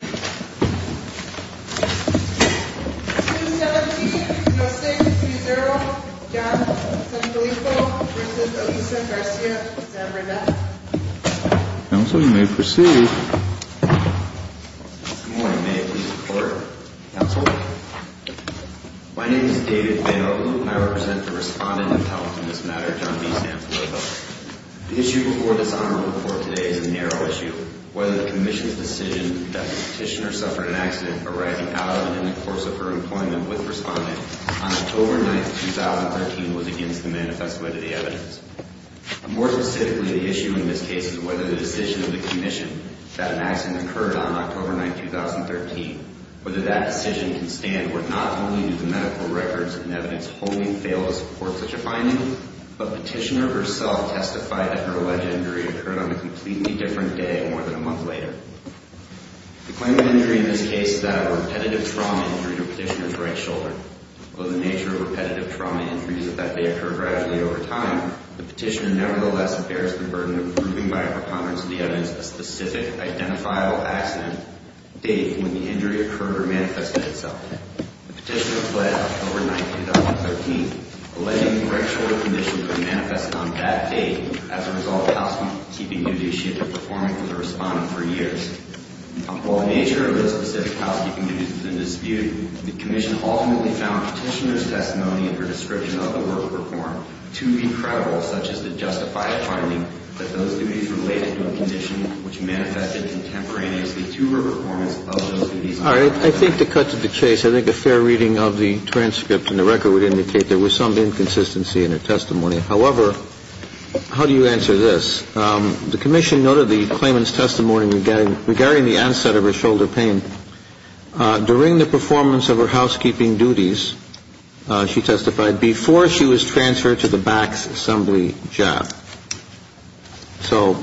No. 6, 3-0, John Zafilippo v. Elisa Garcia Zavedra Counsel, you may proceed. Good morning, may I please report? Counsel? My name is David Vanolup, and I represent the respondent of Health in this matter, John B. Zavedra. The issue before this honorable court today is a narrow issue. Whether the commission's decision that the petitioner suffered an accident arriving out of and in the course of her employment with the respondent on October 9, 2013 was against the manifest way to the evidence. More specifically, the issue in this case is whether the decision of the commission that an accident occurred on October 9, 2013, whether that decision can stand or not only do the medical records and evidence wholly fail to support such a finding, but the petitioner herself testified that her alleged injury occurred on a completely different day more than a month later. The claim of injury in this case is that a repetitive trauma injury to the petitioner's right shoulder. Although the nature of repetitive trauma injuries is that they occur gradually over time, the petitioner nevertheless bears the burden of proving by a preponderance of the evidence a specific identifiable accident date when the injury occurred or manifested itself. The petitioner fled October 9, 2013, alleging the right shoulder condition could have manifested on that date as a result of housekeeping duty she had been performing for the respondent for years. Although the nature of those specific housekeeping duties is in dispute, the commission ultimately found the petitioner's testimony and her description of the work performed to be credible, such as the justified finding that those duties related to a condition which manifested contemporaneously to her performance of those duties. All right. I think to cut to the chase, I think a fair reading of the transcript and the record would indicate there was some inconsistency in her testimony. However, how do you answer this? The commission noted the claimant's testimony regarding the onset of her shoulder pain during the performance of her housekeeping duties, she testified, before she was transferred to the BAC's assembly job. So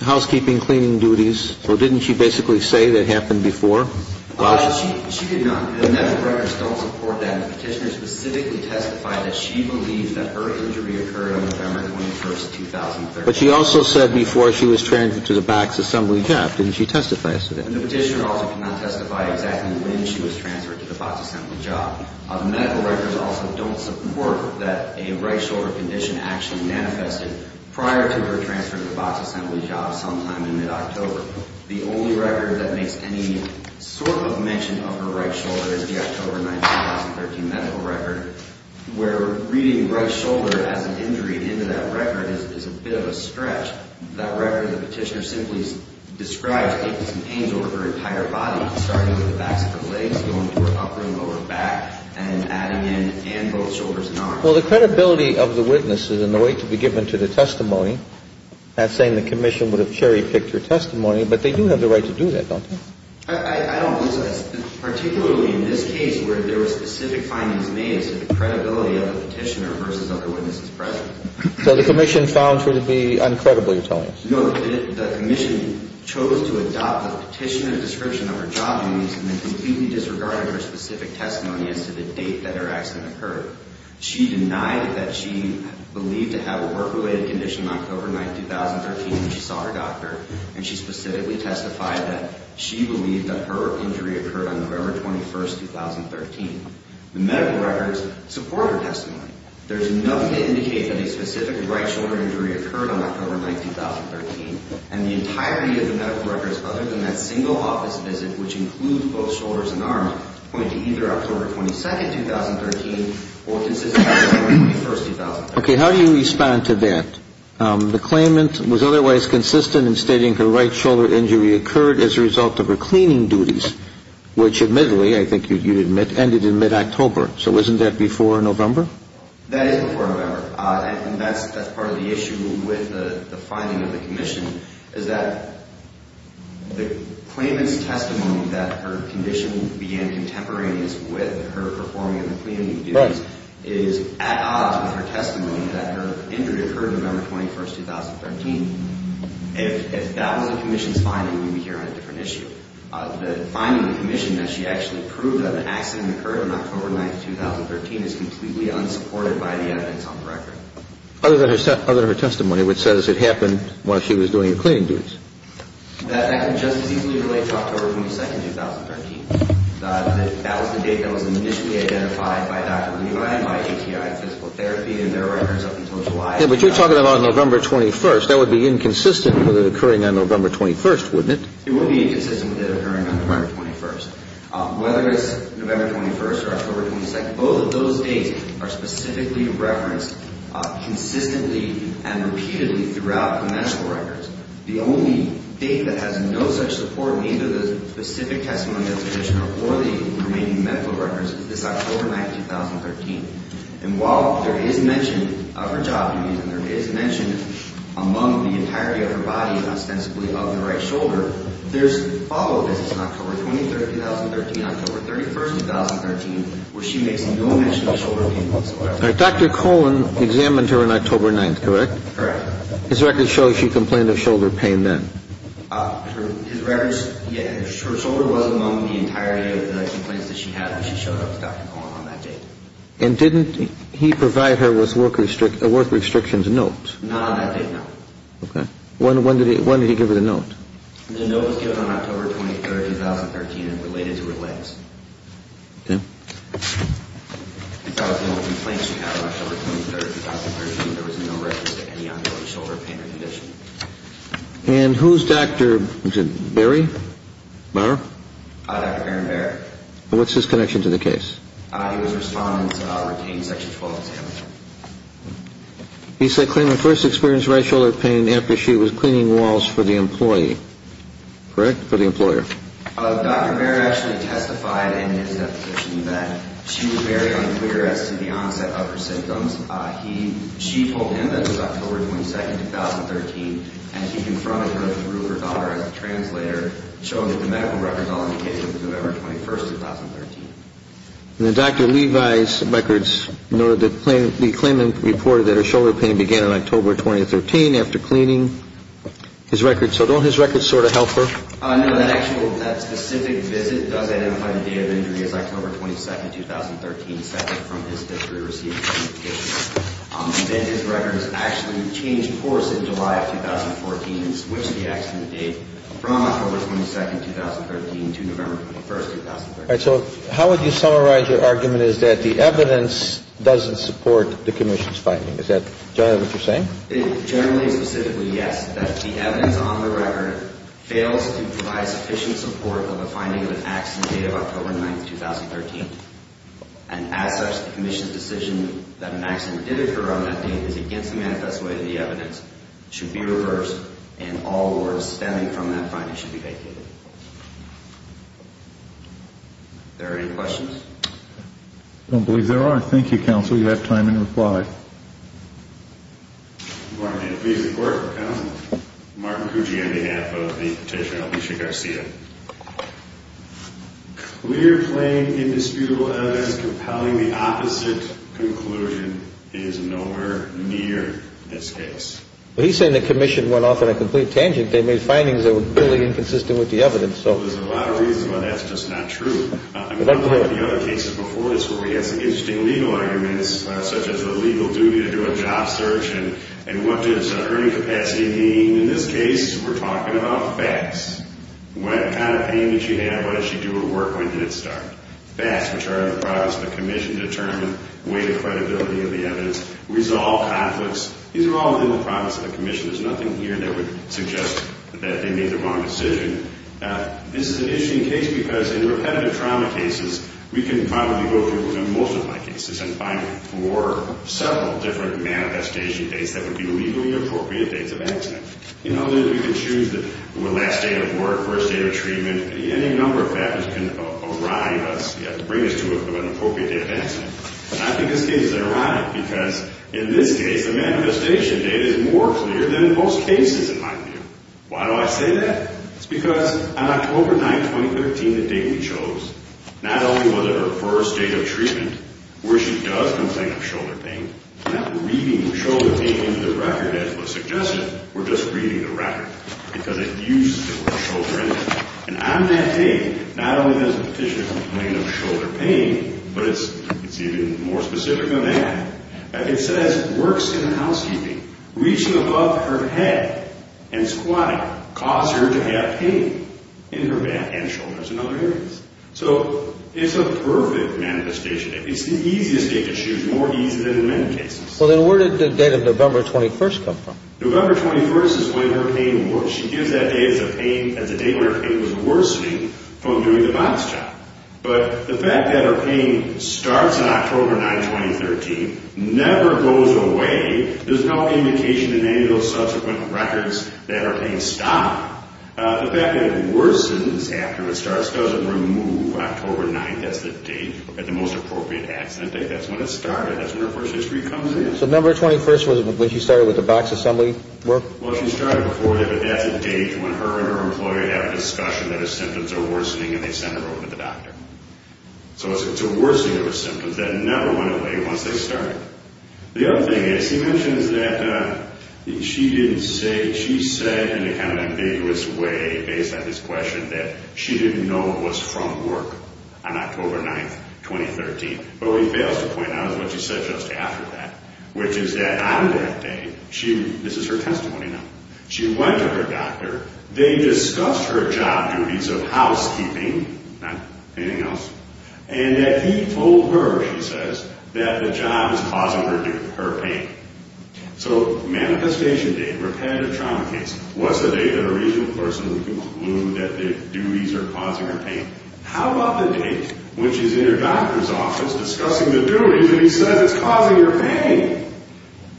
housekeeping cleaning duties, or didn't she basically say that happened before? She did not. The medical records don't support that. The petitioner specifically testified that she believed that her injury occurred on November 21, 2013. But she also said before she was transferred to the BAC's assembly job. Didn't she testify to that? The petitioner also cannot testify exactly when she was transferred to the BAC's assembly job. The medical records also don't support that a right shoulder condition actually manifested prior to her transfer to the BAC's assembly job sometime in mid-October. The only record that makes any sort of mention of her right shoulder is the October 19, 2013 medical record, where reading right shoulder as an injury into that record is a bit of a stretch. That record, the petitioner simply describes it as an angel of her entire body, not starting with the backs of her legs, going to her upper and lower back, and adding in both shoulders and arms. Well, the credibility of the witness is in the way to be given to the testimony. I'm not saying the commission would have cherry-picked her testimony, but they do have the right to do that, don't they? I don't believe so. Particularly in this case where there were specific findings made, it's the credibility of the petitioner versus other witnesses present. So the commission found her to be uncredible, you're telling us? No, the commission chose to adopt the petitioner description of her job news and then completely disregarded her specific testimony as to the date that her accident occurred. She denied that she believed to have a work-related condition on October 9, 2013 when she saw her doctor, and she specifically testified that she believed that her injury occurred on November 21, 2013. The medical records support her testimony. There's nothing to indicate that a specific right shoulder injury occurred on October 9, 2013, and the entirety of the medical records other than that single office visit, which includes both shoulders and arms, point to either October 22, 2013, or consistent October 21, 2013. Okay, how do you respond to that? The claimant was otherwise consistent in stating her right shoulder injury occurred as a result of her cleaning duties, which admittedly, I think you'd admit, ended in mid-October, so isn't that before November? That is before November, and that's part of the issue with the finding of the commission, is that the claimant's testimony that her condition began contemporaneous with her performing her cleaning duties is at odds with her testimony that her injury occurred November 21, 2013. If that wasn't the commission's finding, we'd be here on a different issue. The finding of the commission that she actually proved that an accident occurred on October 9, 2013 is completely unsupported by the evidence on the record. Other than her testimony which says it happened while she was doing her cleaning duties? That can just as easily relate to October 22, 2013. That was the date that was initially identified by Dr. Levi and by ATI Physical Therapy in their records up until July. Yeah, but you're talking about November 21. That would be inconsistent with it occurring on November 21, wouldn't it? It would be inconsistent with it occurring on November 21. Whether it's November 21 or October 22, both of those dates are specifically referenced consistently and repeatedly throughout the medical records. The only date that has no such support in either the specific testimony of the commissioner or the remaining medical records is this October 9, 2013. And while there is mention of her jogging and there is mention among the entirety of her body and ostensibly of the right shoulder, there's follow-up visits in October 23, 2013, October 31, 2013, where she makes no mention of shoulder pain whatsoever. Dr. Cohen examined her on October 9, correct? Correct. His records show she complained of shoulder pain then. Her shoulder was among the entirety of the complaints that she had when she showed up with Dr. Cohen on that date. And didn't he provide her with work restrictions notes? Not on that date, no. Okay. When did he give her the note? The note was given on October 23, 2013 and related to her legs. Okay. Because of the only complaints she had on October 23, 2013, there was no reference to any ongoing shoulder pain or condition. And who's Dr. Barry? Dr. Aaron Barry. And what's his connection to the case? He was a respondent, retained Section 12 examiner. He said Clayman first experienced right shoulder pain after she was cleaning walls for the employee. Correct? For the employer. Dr. Barry actually testified in his deposition that she was very unclear as to the onset of her symptoms. She told him that it was October 22, 2013, and he confronted her through her daughter as a translator, showing the medical records on the case of November 21, 2013. And Dr. Levi's records noted that Clayman reported that her shoulder pain began in October 2013 after cleaning his records. So don't his records sort of help her? No. That specific visit does identify the day of injury as October 22, 2013, separate from his history of receiving the patient. And then his records actually changed course in July of 2014 and switched the accident date from October 22, 2013 to November 21, 2013. All right. So how would you summarize your argument is that the evidence doesn't support the commission's finding? Is that generally what you're saying? Generally and specifically, yes, that the evidence on the record fails to provide sufficient support for the finding of an accident date of October 9, 2013. And as such, the commission's decision that an accident did occur on that date is against the manifest way of the evidence, should be reversed, and all words stemming from that finding should be vacated. Are there any questions? I don't believe there are. Thank you, counsel. You have time and reply. Good morning. Please report, counsel. Martin Cucci on behalf of the petitioner Alicia Garcia. Clear, plain, indisputable evidence compelling the opposite conclusion is nowhere near this case. Well, he's saying the commission went off on a complete tangent. They made findings that were totally inconsistent with the evidence. There's a lot of reasons why that's just not true. I mean, I've heard of the other cases before this where we had some interesting legal arguments, such as the legal duty to do a job search and what does earning capacity mean. In this case, we're talking about facts. What kind of payment you have, what does she do her work, when did it start? Facts, which are in the process of the commission determining weight and credibility of the evidence. Resolve conflicts. These are all within the promise of the commission. There's nothing here that would suggest that they made the wrong decision. This is an interesting case because in repetitive trauma cases, we can probably go through most of my cases and find four, several different manifestation dates that would be legally appropriate dates of accident. In other words, we can choose the last day of work, first day of treatment. Any number of factors can arrive us, bring us to an appropriate date of accident. I think this case is ironic because in this case, the manifestation date is more clear than most cases in my view. Why do I say that? It's because on October 9, 2015, the date we chose, not only was it her first day of treatment, where she does complain of shoulder pain, not reading shoulder pain into the record as was suggested, we're just reading the record because it used to be shoulder pain. And on that day, not only does the petitioner complain of shoulder pain, but it's even more specific than that. It says, works in her housekeeping. Reaching above her head and squatting caused her to have pain in her back and shoulders and other areas. So it's a perfect manifestation. It's the easiest date to choose, more easy than in many cases. Well, then where did the date of November 21st come from? November 21st is when her pain works. She gives that date as a date where her pain was worsening from doing the box job. But the fact that her pain starts on October 9, 2013, never goes away, there's no indication in any of those subsequent records that her pain stopped. The fact that it worsens after it starts doesn't remove October 9. That's the date at the most appropriate accident date. That's when it started. That's when her first history comes in. So November 21st was when she started with the box assembly work? Well, she started before that, but that's a date when her and her employer have a discussion that her symptoms are worsening and they send her over to the doctor. So it's a worsening of her symptoms that never went away once they started. The other thing is, he mentions that she said in a kind of ambiguous way, based on this question, that she didn't know it was from work on October 9, 2013. But what he fails to point out is what she said just after that, which is that on that day, this is her testimony now, she went to her doctor, they discussed her job duties of housekeeping, nothing else, and that he told her, she says, that the job is causing her pain. So manifestation date, repetitive trauma case, what's the date that a reasonable person can conclude that the duties are causing her pain? How about the date when she's in her doctor's office discussing the duties and he says it's causing her pain?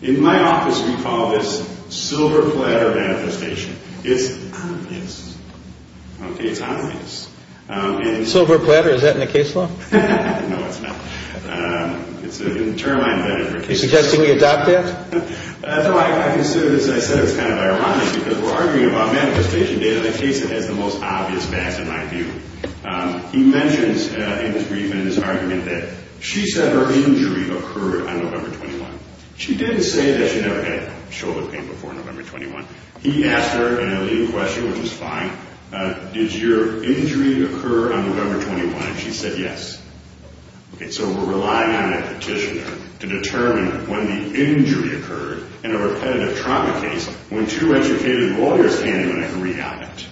In my office we call this silver platter manifestation. It's obvious. Okay, it's obvious. Silver platter, is that in the case law? No, it's not. It's an interline benefit. Are you suggesting we adopt that? No, I consider this, as I said, it's kind of ironic because we're arguing about manifestation date in a case that has the most obvious facts, in my view. He mentions in his brief and in his argument that she said her injury occurred on November 21. She didn't say that she never had shoulder pain before November 21. He asked her in a leading question, which is fine, did your injury occur on November 21, and she said yes. Okay, so we're relying on that petitioner to determine when the injury occurred in a repetitive trauma case when two educated lawyers came in and agreed on it.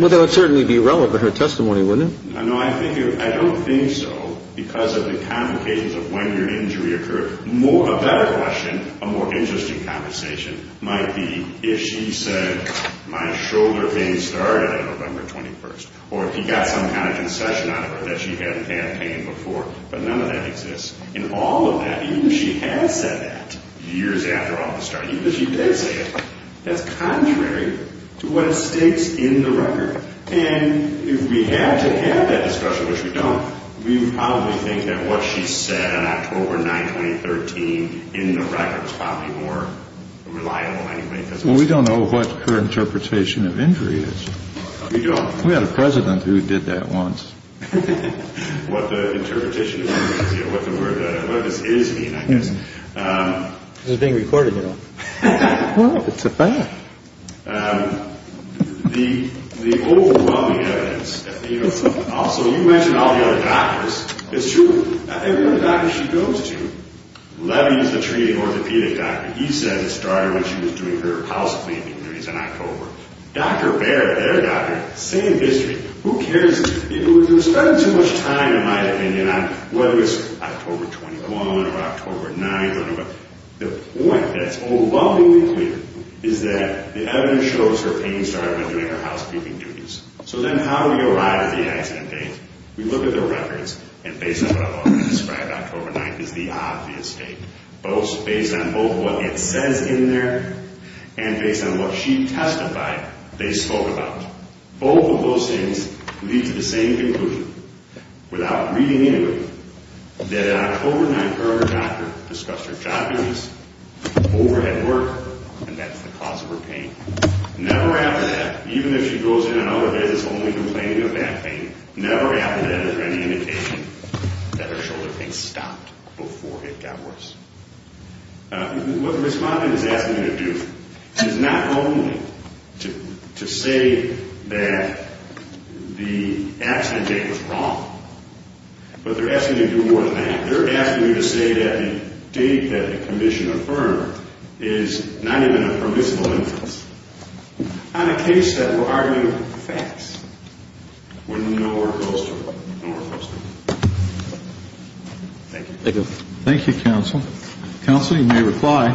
Well, that would certainly be irrelevant in her testimony, wouldn't it? No, I don't think so because of the complications of when your injury occurred. A better question, a more interesting conversation, might be if she said my shoulder pain started on November 21, or if he got some kind of concession out of her that she hadn't had pain before, but none of that exists. In all of that, even if she had said that years after all the starting, even if she did say it, that's contrary to what it states in the record. And if we had to have that discussion, which we don't, we would probably think that what she said on October 9, 2013, in the record, is probably more reliable anyway. Well, we don't know what her interpretation of injury is. We don't? We had a president who did that once. What the interpretation of injury is, what the word, what this is mean, I guess. This is being recorded, you know. Well, it's a fact. The overwhelming evidence, also you mentioned all the other doctors. It's true. Every other doctor she goes to, Levy is the treating orthopedic doctor. He says it started when she was doing her housecleaning injuries in October. Dr. Baird, their doctor, same history. Who cares? You're spending too much time, in my opinion, on whether it's October 21 or October 9, the point that's overwhelmingly clear is that the evidence shows her pain started when doing her housecleaning injuries. So then how do we arrive at the accident date? We look at the records, and based on what I've already described, October 9 is the obvious date. Based on both what it says in there and based on what she testified they spoke about. Both of those things lead to the same conclusion, without reading into it, that on October 9, her doctor discussed her job use, overhead work, and that's the cause of her pain. Never after that, even if she goes in and out of it, it's only complaining of back pain, never after that is there any indication that her shoulder pain stopped before it got worse. What the respondent is asking you to do is not only to say that the accident date was wrong, but they're asking you to do more than that. They're asking you to say that the date that the commission affirmed is not even a permissible instance. On a case that we're arguing facts, we don't know where it goes to. Thank you. Thank you, counsel. Counsel, you may reply.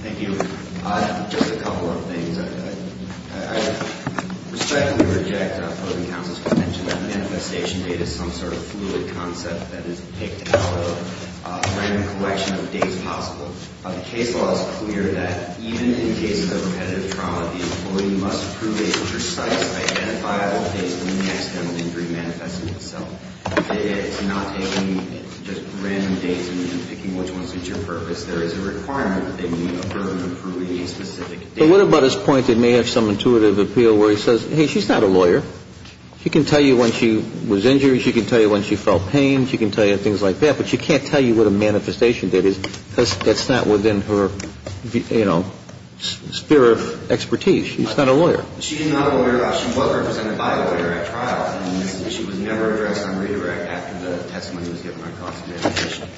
Thank you. Just a couple of things. I respectfully reject opposing counsel's convention that manifestation date is some sort of fluid concept that is picked out of a random collection of dates possible. The case law is clear that even in cases of repetitive trauma, the employee must prove a precise identifiable date when the accidental injury manifested itself. It's not taking just random dates and picking which ones suit your purpose. There is a requirement that they need to prove a specific date. But what about his point that may have some intuitive appeal where he says, hey, she's not a lawyer. She can tell you when she was injured. She can tell you when she felt pain. She can tell you things like that. But she can't tell you what a manifestation date is. That's not within her, you know, sphere of expertise. She's not a lawyer. She's not a lawyer. She was represented by a lawyer at trial. She was never addressed on redirect after the testimony was given on cross-manifestation.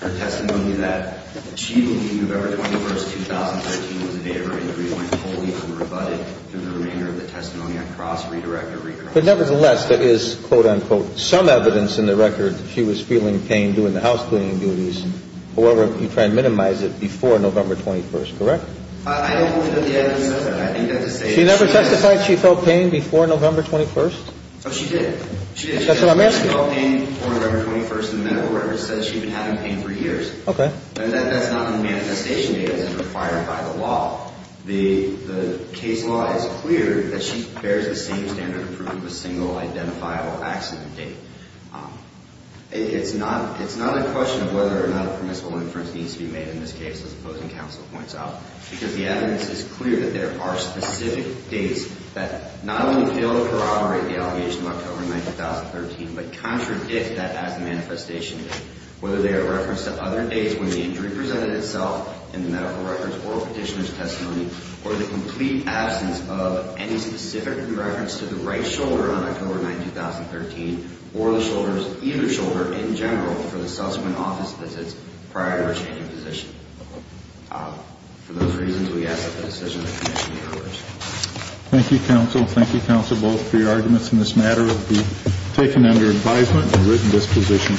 Her testimony that she believed November 21, 2013 was a date of her injury went wholly unrebutted through the remainder of the testimony on cross-redirect or redirect. But nevertheless, there is, quote, unquote, some evidence in the record that she was feeling pain during the housecleaning duties. However, you try and minimize it before November 21, correct? I don't believe that the evidence says that. She never testified she felt pain before November 21? Oh, she did. She did. That's what I'm asking. She said she felt pain before November 21 in the medical record. It says she'd been having pain for years. Okay. And that's not on the manifestation date as it's required by the law. The case law is clear that she bears the same standard of proof of a single identifiable accident date. It's not a question of whether or not a permissible inference needs to be made in this case, as the opposing counsel points out, because the evidence is clear that there are specific dates that not only fail to corroborate the allegation of October 9, 2013, but contradict that as the manifestation date, whether they are referenced at other dates when the injury presented itself in the medical records or petitioner's testimony or the complete absence of any specific reference to the right shoulder on October 9, 2013 or the shoulder, either shoulder in general for the subsequent office visits prior to her changing position. For those reasons, we ask that the decision be made in your favor. Thank you, counsel. Thank you, counsel, both for your arguments in this matter. It will be taken under advisement and written disposition.